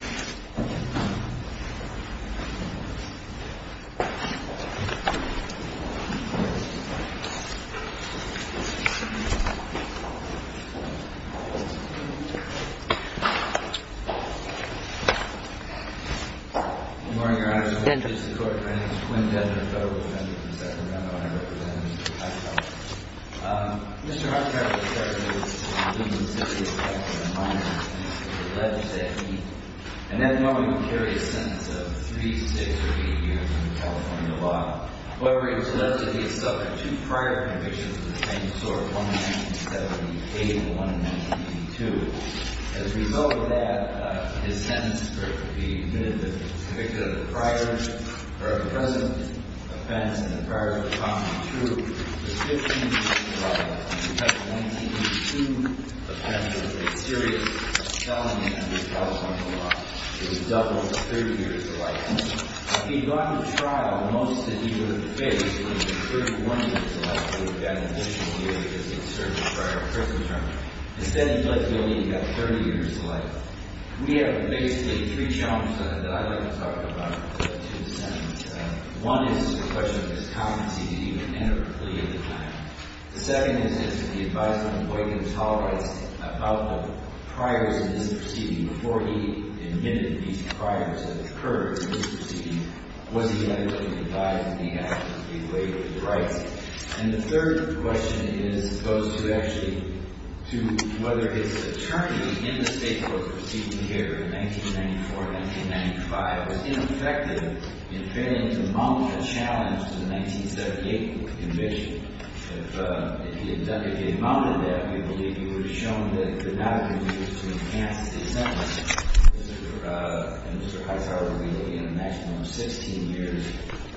Good morning, Your Honor. This is the Court of Appeals. Quinn Dender, Federal Defendant in the Second Round. I represent Mr. Hightower. Mr. Hightower is charged with the most insidious acts of violence against a legislator. And at the moment, he can carry a sentence of three, six, or eight years under California law. However, it is alleged that he has suffered two prior convictions of the same sort, one in 1978 and one in 1982. As a result of that, his sentence for being admittedly convicted of a prior or a present offense and a prior to the problem true is 15 years in trial. He has 1982 offenses of a serious felony under California law. It is doubled to 30 years of life. After he had gone to trial, most of what he would have faced would have been 31 years of life. He would have gotten additional years because he had served a prior prison term. Instead, he's allegedly got 30 years of life. We have basically three challenges that I'd like to talk about in the two sessions. One is the question of his competency to even enter a plea of the kind. The second is, is the advisory employee going to tolerate about the priors in this proceeding? Before he admitted these priors that occurred in this proceeding, was he adequately advised that he had a way with the rights? And the third question is as opposed to actually to whether his attorney in the state court proceeding here in 1994, 1995, was ineffective in failing to mount a challenge to the 1978 conviction. If he had mounted that, we believe he would have shown that it could not have been used to enhance his sentence. And Mr. Hightower would be looking at a maximum of 16 years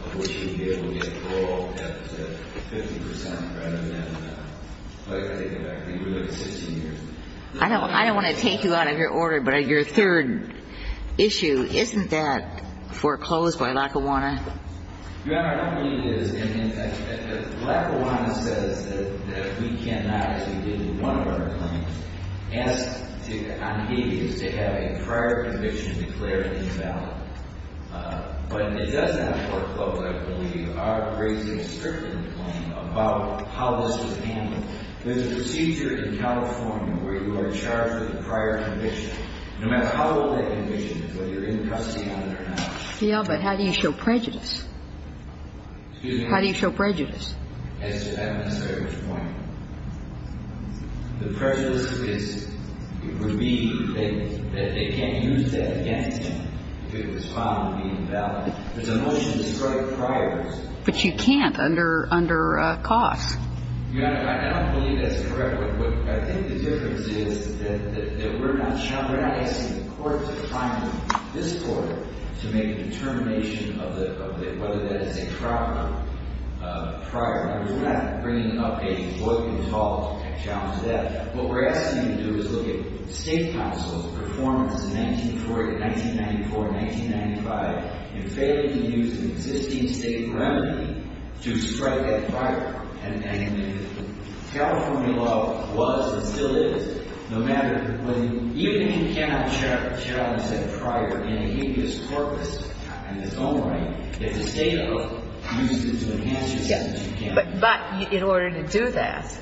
of which he would be able to get parole at 50% rather than, I think it would have to be really 16 years. I don't want to take you out of your order, but your third issue, isn't that foreclosed by Lackawanna? Your Honor, I don't believe it is. And, in fact, Lackawanna says that we cannot, as we did with one of our claims, ask on the aegis to have a prior conviction declared invalid. But it does have a foreclosure, I believe, out of raising a certain claim about how this was handled. There's a procedure in California where you are charged with a prior conviction. No matter how old that conviction is, whether you're in custody on it or not. Yeah, but how do you show prejudice? How do you show prejudice? I'm not sure at which point. The prejudice is, it would be that they can't use that against him if it was found to be invalid. There's a motion to strike priors. But you can't under costs. Your Honor, I don't believe that's correct. I think the difference is that we're not asking the court to find this court to make a determination of whether that is a prior. We're not bringing up a Boyd v. Hall challenge to that. What we're asking you to do is look at state counsel's performance in 1994 and 1995 in failing to use an existing state remedy to strike that prior. And the California law was, and still is, no matter when, even if you cannot challenge that prior in a habeas corpus in its own right, it's a state of use it to enhance it. Yes. But in order to do that,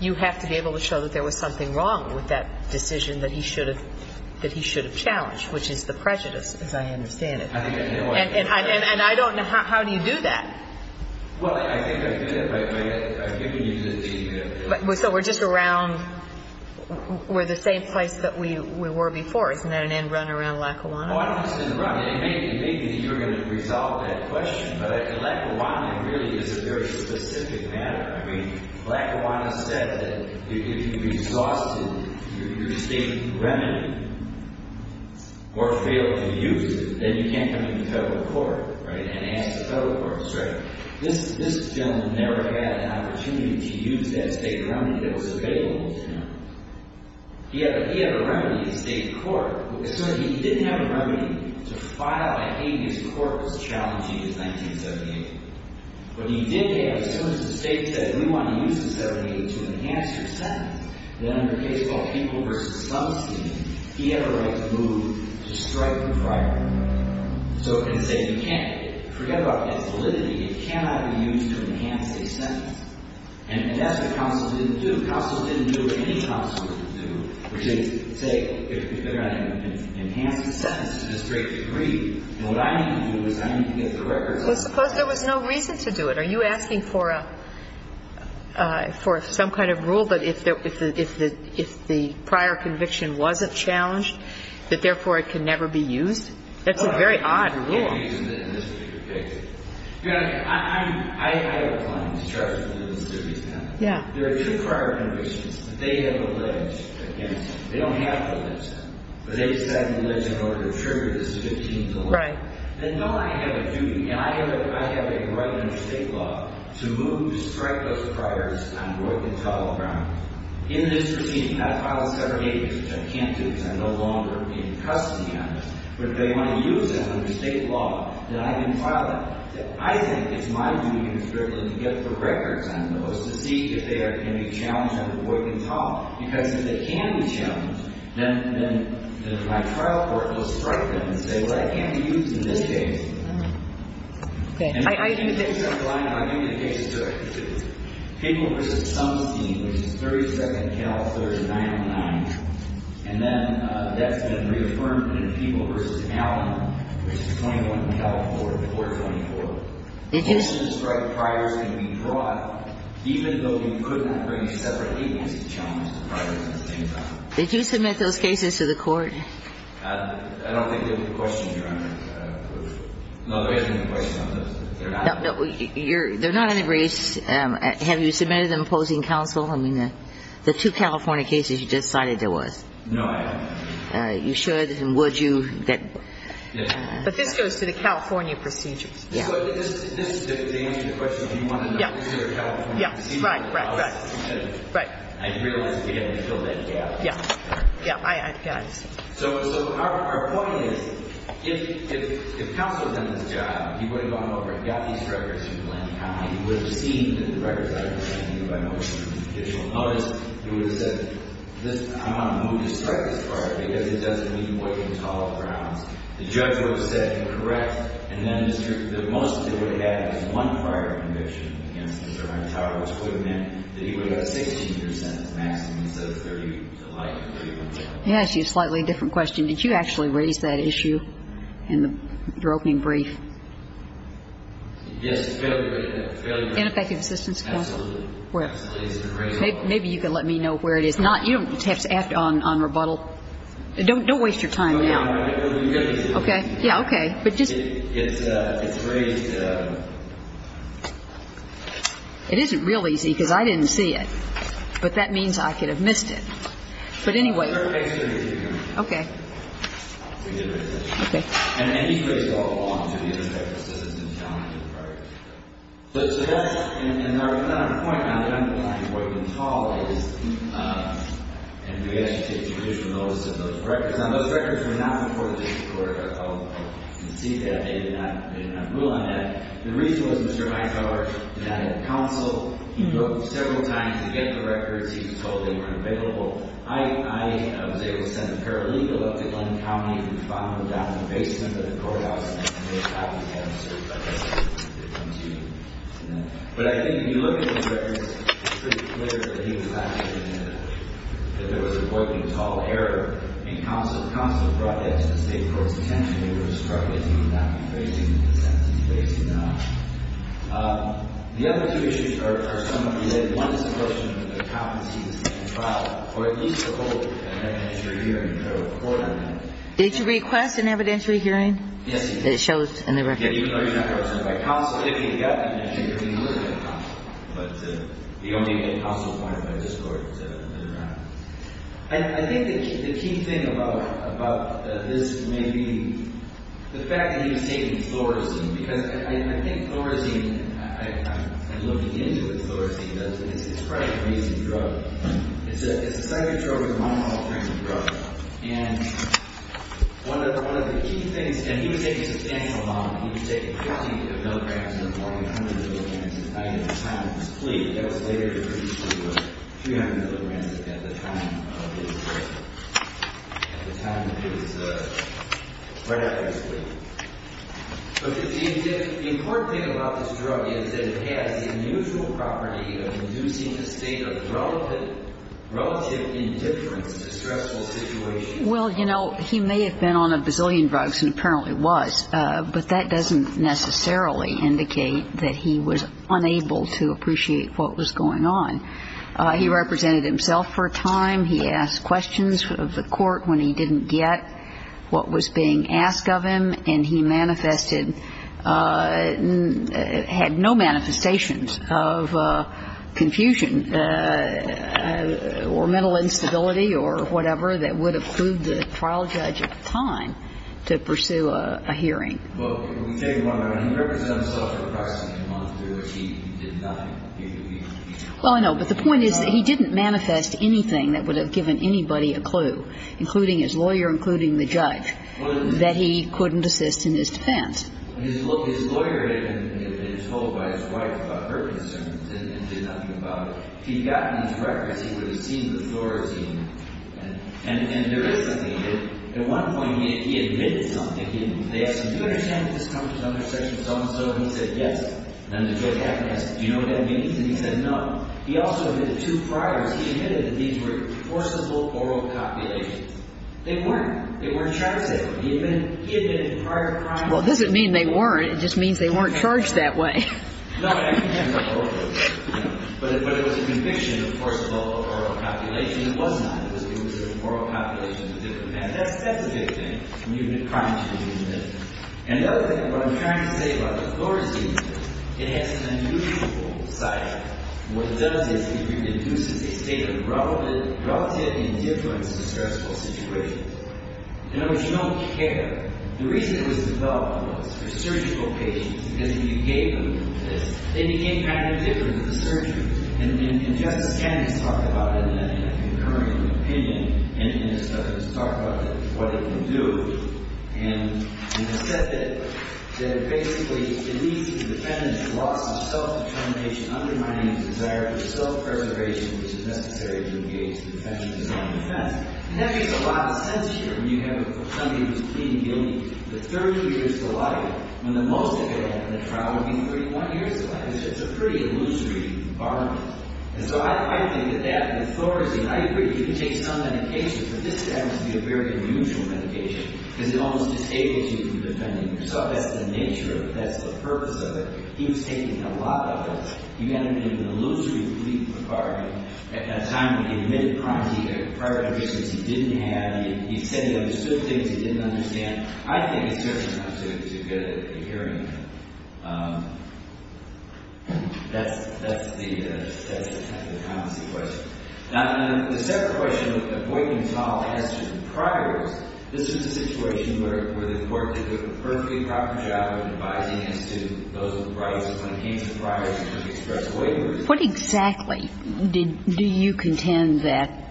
you have to be able to show that there was something wrong with that decision that he should have challenged, which is the prejudice, as I understand it. And I don't know how do you do that. Well, I think I could have. I've given you the data. So we're just around, we're the same place that we were before. Isn't that an end run around Lackawanna? Well, I don't think it's an end run. And maybe you're going to resolve that question. But Lackawanna really is a very specific matter. I mean, Lackawanna said that if you exhausted your state remedy or failed to use it, then you can't come to the federal court, right, and ask the federal court to strike. This gentleman never had an opportunity to use that state remedy that was available to him. He had a remedy in state court. So he didn't have a remedy to file a habeas corpus challenging his 1978. But he did have, as soon as the state said, we want to use the 78 to enhance your sentence, then under a case called Kimball v. Summerston, he had a right to move to strike the prior. So it can say you can't forget about that validity. It cannot be used to enhance a sentence. And that's what counsel didn't do. Counsel didn't do what any counsel would do, which is say, if you're going to enhance a sentence to this great degree, then what I need to do is I need to get the records out. Well, suppose there was no reason to do it. Are you asking for a, for some kind of rule that if the prior conviction wasn't challenged, that therefore it can never be used? That's a very odd rule. Well, I can't use it in this particular case. You know, I'm, I have a claim to charge for the misdemeanors now. Yeah. There are two prior convictions that they have alleged against him. They don't have to allege him. But they decided to allege him in order to trigger this 15 to 1. Right. Then don't I have a duty, and I have a right under state law, to move to strike those priors on Roy Pintole and Brown. In this proceeding, if I file a severed agency, which I can't do because I'm no longer in custody of him, but if they want to use it under state law, then I can file it. I think it's my duty as a criminal to get the records on those to see if they can be challenged under Roy Pintole. Because if they can be challenged, then, then my trial court will strike them and say, well, it can't be used in this case. Okay. I, I do think that. Did you submit those cases to the court? I don't think there was a question here. No, there isn't a question on those. They're not. No, you're, they're not under race. Have you submitted them opposing counsel? I mean, the two California cases you just cited, there was. No, I haven't. You should. And would you get. Yes. But this goes to the California procedures. Yeah. But this, this, to answer your question, do you want to know, is there a California procedure? Yeah. Right, right, right. Right. I realize we haven't filled that gap. Yeah. Yeah. So, so our, our point is, if, if, if counsel's in this job, he would have gone over and got these records from Atlantic County, he would have seen that the records I was sending you by motion and judicial notice. He would have said, this, I want to move to strike this fire because it doesn't mean weighing tall grounds. The judge would have said, correct. And then Mr., the most they would have had was one prior conviction against Mr. Hontaro, which would have meant that he would have 16 years sentence maximum, instead of 30 to life. He asked you a slightly different question. Did you actually raise that issue in the broking brief? Yes. In effective assistance case? Absolutely. Maybe you can let me know where it is. Not, you don't have to act on, on rebuttal. Don't, don't waste your time now. Okay. Yeah. Okay. But just. It's, it's raised. It isn't real easy because I didn't see it. But that means I could have missed it. But anyway. Okay. Okay. And he's raised it all along to the effect of assistance and challenges. Right. But, so that's, and, and our, not on the point now, I'm, I'm, I'm weighing tall is, and we actually take judicial notice of those records. Now, those records were not before the district court. I'll, I'll, I'll concede that. They did not, they did not rule on that. The reason was Mr. Hontaro did not have counsel. He booked several times to get the records. He was told they weren't available. I, I was able to send a paralegal up to one county and found them down in the basement of the courthouse. But I think if you look at the records, it's pretty clear that there was a working tall error and counsel, counsel brought that to the state court's attention. They were struggling to move that. The other two issues are, are some of the, one is the question of the trial, or at least the whole evidentiary hearing. Did I report on that? Did you request an evidentiary hearing? Yes, you did. It shows in the records. Yeah, even though you're not a person by counsel, if you got an evidentiary hearing, you would have gotten it. But you don't need to get counsel appointed by the district court to look at that. I, I think the key, the key thing about, about this may be the fact that he was taking Florazine because I, I, I think Florazine, I, I, I'm, I'm looking into what Florazine does, and it's, it's quite an amazing drug. It's a, it's a psychotropic monoclonal antidepressant drug. And one of, one of the key things, and he was taking substantial amount. He was taking 15 milligrams to the point of 100 milligrams a night at the time of his plea. That was later reduced to 300 milligrams at the time of his arrest, at the time of his, right after his plea. But the, the important thing about this drug is that it has the unusual property of inducing the state of relative, relative indifference to stressful situations. Well, you know, he may have been on a bazillion drugs, and apparently was, but that doesn't necessarily indicate that he was unable to appreciate what was going on. He represented himself for a time. He asked questions of the court when he didn't get what was being asked of him. And he manifested, had no manifestations of confusion or mental instability or whatever that would have clued the trial judge at the time to pursue a, a hearing. Well, can we take it one more minute? He represents himself for approximately a month. He didn't die. Well, I know, but the point is that he didn't manifest anything that would have given anybody a clue, including his lawyer, including the judge. And he didn't say that he was not a person of interest to the trial judge. He didn't say that he couldn't assist in his defense. His lawyer had been told by his wife about her concerns and did nothing about it. He'd gotten his records. He would have seen the authority and there is something. At one point, he admitted something. They asked him, do you understand that this comes from under Section 707? And he said yes. And the judge asked him, do you know what that means? And he said no. He also admitted two priors. He admitted that these were forcible oral copulations. They weren't. They weren't charged that way. He admitted prior to the crime. Well, it doesn't mean they weren't. It just means they weren't charged that way. No, I didn't say that. But it was a conviction of forcible oral copulations. It was not. It was oral copulations of different kinds. That's a good thing. When you admit crimes, you can do that. And the other thing, what I'm trying to say about the floor is that it has an unusual side. What it does is it reduces a state of relative indifference in stressful situations. In other words, you don't care. The reason it was developed was for surgical patients because when you gave them this, they became kind of indifferent to the surgery. And Justice Kennedy has talked about it in a concurrent opinion. And has talked about what it can do. And has said that basically, it reduces the defendant's loss of self-determination, undermining his desire for self-preservation, which is necessary to engage the defendant in self-defense. And that makes a lot of sense here. When you have somebody who's pleading guilty for 30 years to life, when the most they could have in the trial would be 31 years to life. It's just a pretty illusory environment. And so I think that that, the floor is, I agree. You can take some medication, but this happens to be a very unusual medication because it almost disables you from defending yourself. That's the nature of it. That's the purpose of it. He was taking a lot of it. You end up being an illusory plea for pardon. At that time, he admitted crime. He had a prior evidence that he didn't have. He said he understood things he didn't understand. I think it's fair enough to get a hearing. That's the kind of the policy question. Now, the second question of the appointment trial has to do with priors. This is a situation where the court did a perfectly proper job of advising as to those are the rights when it came to priors to express waivers. What exactly did you contend that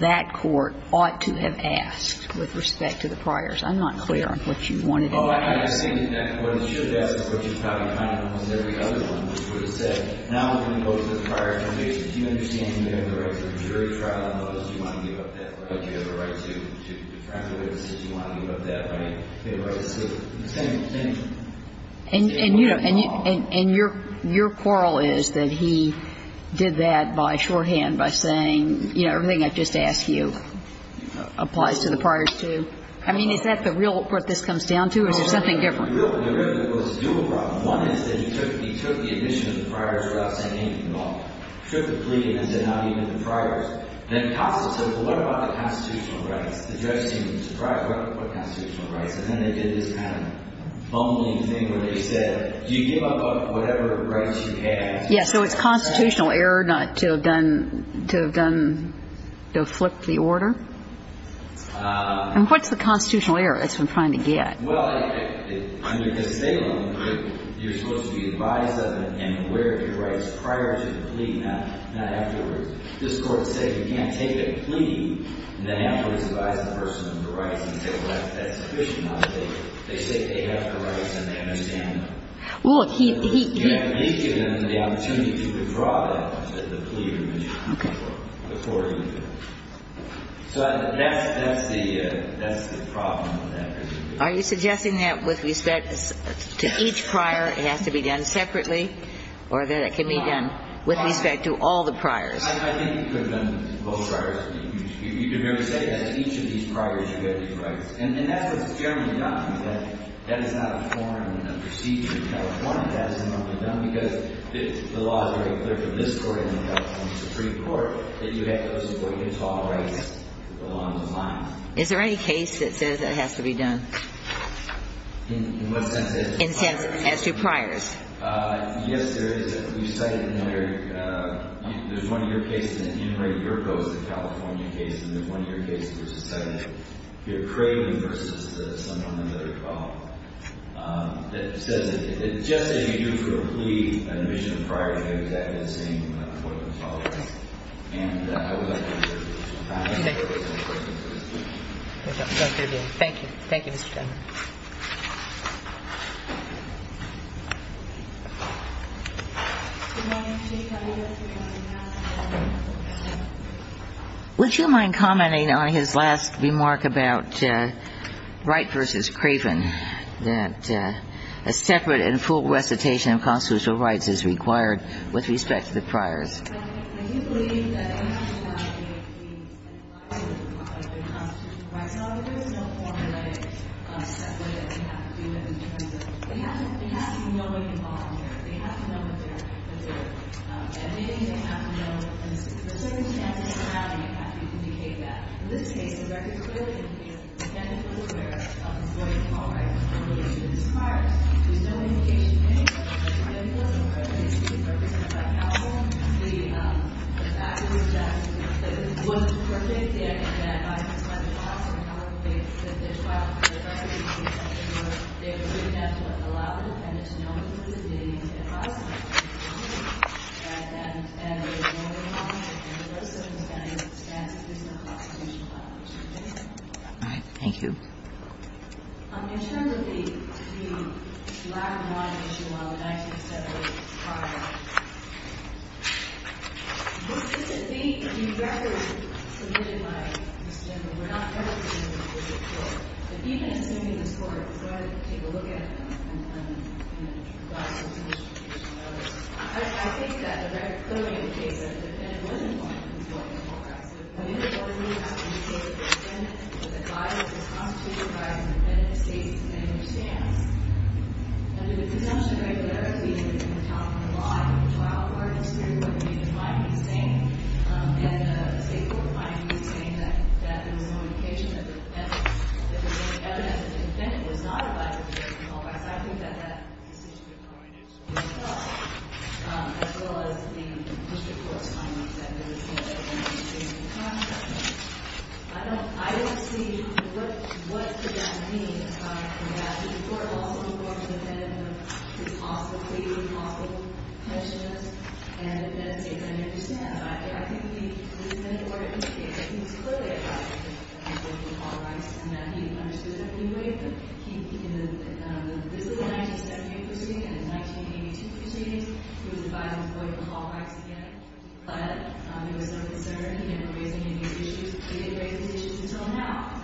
that court ought to have asked with respect to the priors? I'm not clear on what you wanted it to ask. Well, I think that what it should have asked is what you probably kind of almost every other one would have said. Now we're going to go to the prior information. Do you understand that you have the right to a jury trial? Do you want to give up that right? Do you have a right to tranquillity? Do you want to give up that right? Do you have a right to civil? And you know, and your quarrel is that he did that by shorthand by saying, you know, everything I've just asked you applies to the priors, too. I mean, is that the real what this comes down to, or is there something different? No, no, no. There really was two problems. One is that he took the admission of the priors without saying anything at all. He took the plea and said not even the priors. And then the counsel said, well, what about the constitutional rights? The judge seemed surprised. What constitutional rights? And then they did this kind of bumbling thing where they said, do you give up whatever rights you have? Yes, so it's constitutional error not to have done, to have done, to have flipped the order? And what's the constitutional error it's been trying to get? Well, under the Salem, you're supposed to be advised of and aware of your rights prior to the plea, not afterwards. This Court said you can't take a plea and then afterwards advise the person of the rights and say, well, that's sufficient. They say they have the rights and they understand them. Well, he didn't. He didn't give them the opportunity to withdraw the plea or admission before he did. So that's the problem with that. Are you suggesting that with respect to each prior it has to be done separately or that it can be done with respect to all the priors? I think it could have been both priors. You could very say that each of these priors you have these rights. And that's what's generally done. That is not a form, a procedure in California that hasn't normally been done because the law is very clear to this Court and the California Supreme Court that you have to oversee what you tolerate and the law is aligned. Is there any case that says it has to be done? In what sense? As to priors. Yes, there is. We cited another. There's one of your cases in Henry Yerko's, the California case, and there's one of your cases that's cited here, Craven v. the son of another father, that says that just as you do for a plea, an admission prior is the exact same as what the father does. And I would like to hear your views on that. Thank you. Thank you, Mr. Chairman. Would you mind commenting on his last remark about Wright v. Craven, that a separate and full recitation of constitutional rights is required with respect to the priors? Mr. Chairman, do you believe that it has to be allowed to be a plea and a prior with respect to constitutional rights? No, there is no formalized step that they have to do in terms of – they have to know when to volunteer. They have to know when they're admitted. They have to know – there's a certain standard of morality you have to indicate that. In this case, the record clearly indicates that the standard of morality of avoiding All right. Thank you. In terms of the black and white issue on the 1978 trial, would it be – the record submitted by Mr. Nichol, we're not referencing it in this report, but even assuming this court is going to take a look at it and then, you know, provide some solution to this matter, I think that the record clearly indicates that the defendant was informed of what the court asked of him. And in this case, the record clearly, as I mentioned, does not indicate that the defendant was advised of the constitutional right of the defendant to state his and their stance. Under the presumption of regularity that's in the top of the law in the trial court history, what the defendant might be saying – and the state court might be saying that there was no indication that the defendant – that there was any evidence that the defendant was not advised of the constitutional right of his or her stance. I think that that decision – I did so. I don't – I don't see what – what could that mean. The court also informed the defendant of his possible plea, his possible pensions, and that's a thing I understand. I think the – the defendant ordered – it was clear that he was advised of the law rights and that he understood that anyway. He – in the – this is a 1978 proceeding and a 1982 proceeding. He was advised of the law rights again. But there was no concern. He didn't raise any issues. He didn't raise any issues until now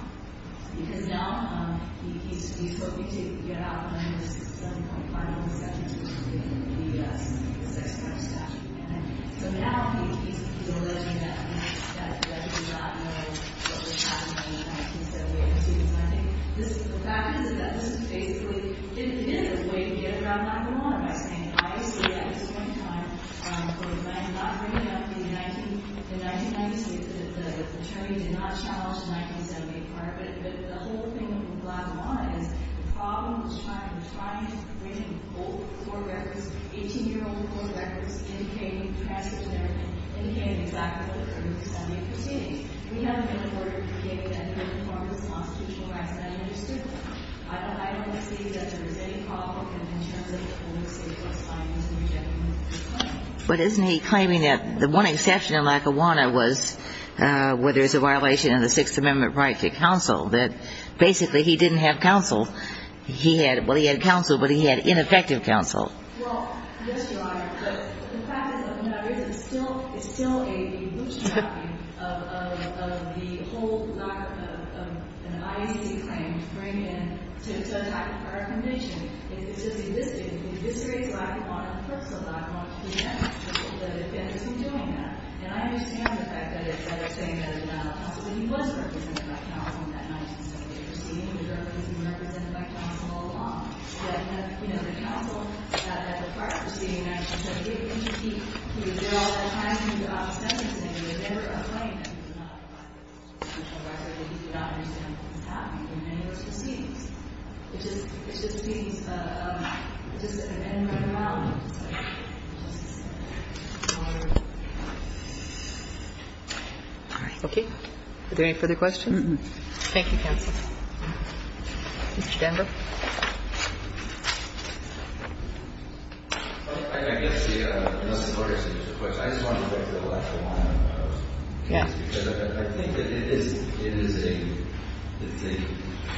because now he's hoping to get out from this 7.5 statute and leave us with a 6.5 statute. So now he's alleging that he does not know what was happening in 1978 and 1982. So I think this – the fact is that this is basically – it is a way to get around I see that at this point in time. But I'm not bringing up the 19 – the 1992 – the attorney did not challenge the 1978 part. But the whole thing with Lackawanna is the problem was trying – trying to bring in old court records, 18-year-old court records indicating transgender men, indicating exactly what occurred in the 1978 proceedings. We haven't been afforded to be able to enter into the forms of constitutional rights that I understood. I don't see that there's any problem in terms of the police being able to find these new gentlemen. But isn't he claiming that the one exception in Lackawanna was where there's a violation of the Sixth Amendment right to counsel, that basically he didn't have counsel. He had – well, he had counsel, but he had ineffective counsel. Well, yes, Your Honor. But the fact is that Lackawanna is still – is still a bootstrapping of the whole doctrine of an IEC claim to bring in – to attack our convention. It's just eviscerates Lackawanna and puts Lackawanna to death for the defendants who are doing that. And I understand the fact that they're saying that it was not counsel, but he was represented by counsel in that 1978 proceeding. He was represented by counsel all along. Yet, you know, the counsel at the part of the proceeding actually said it didn't matter. Are there any further questions? Thank you, counsel. Mr. Denver. I just want to go back to the Lackawanna case, because I think that it is a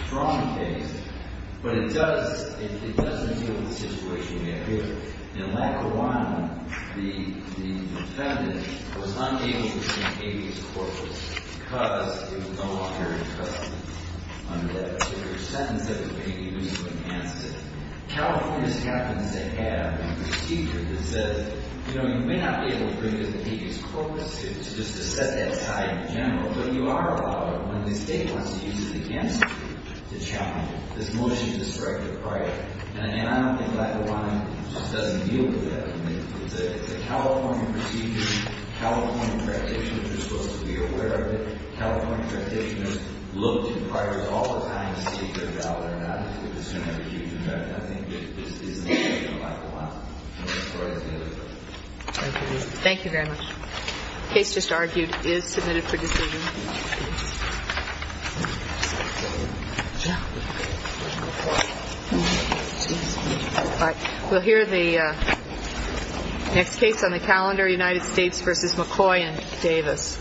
strong case, but it doesn't deal with the situation we have here. In Lackawanna, the defendant was unable to see Amy's corpus because it was no longer covered under that particular sentence that was made to use to enhance it. California happens to have a procedure that says, you know, you may not be able to bring in the defendant's corpus suit just to set that aside in general, but you are allowed to when the state wants to use it against you to challenge this motion to strike your prior. And I don't think Lackawanna just doesn't deal with that. The California procedure, California practitioners are supposed to be aware of it. California practitioners look at priors all the time to see if they are valid or not. I think it is an issue in Lackawanna. Thank you. Thank you very much. The case just argued is submitted for decision. We'll hear the next case on the calendar, United States v. McCoy and Davis. Thank you.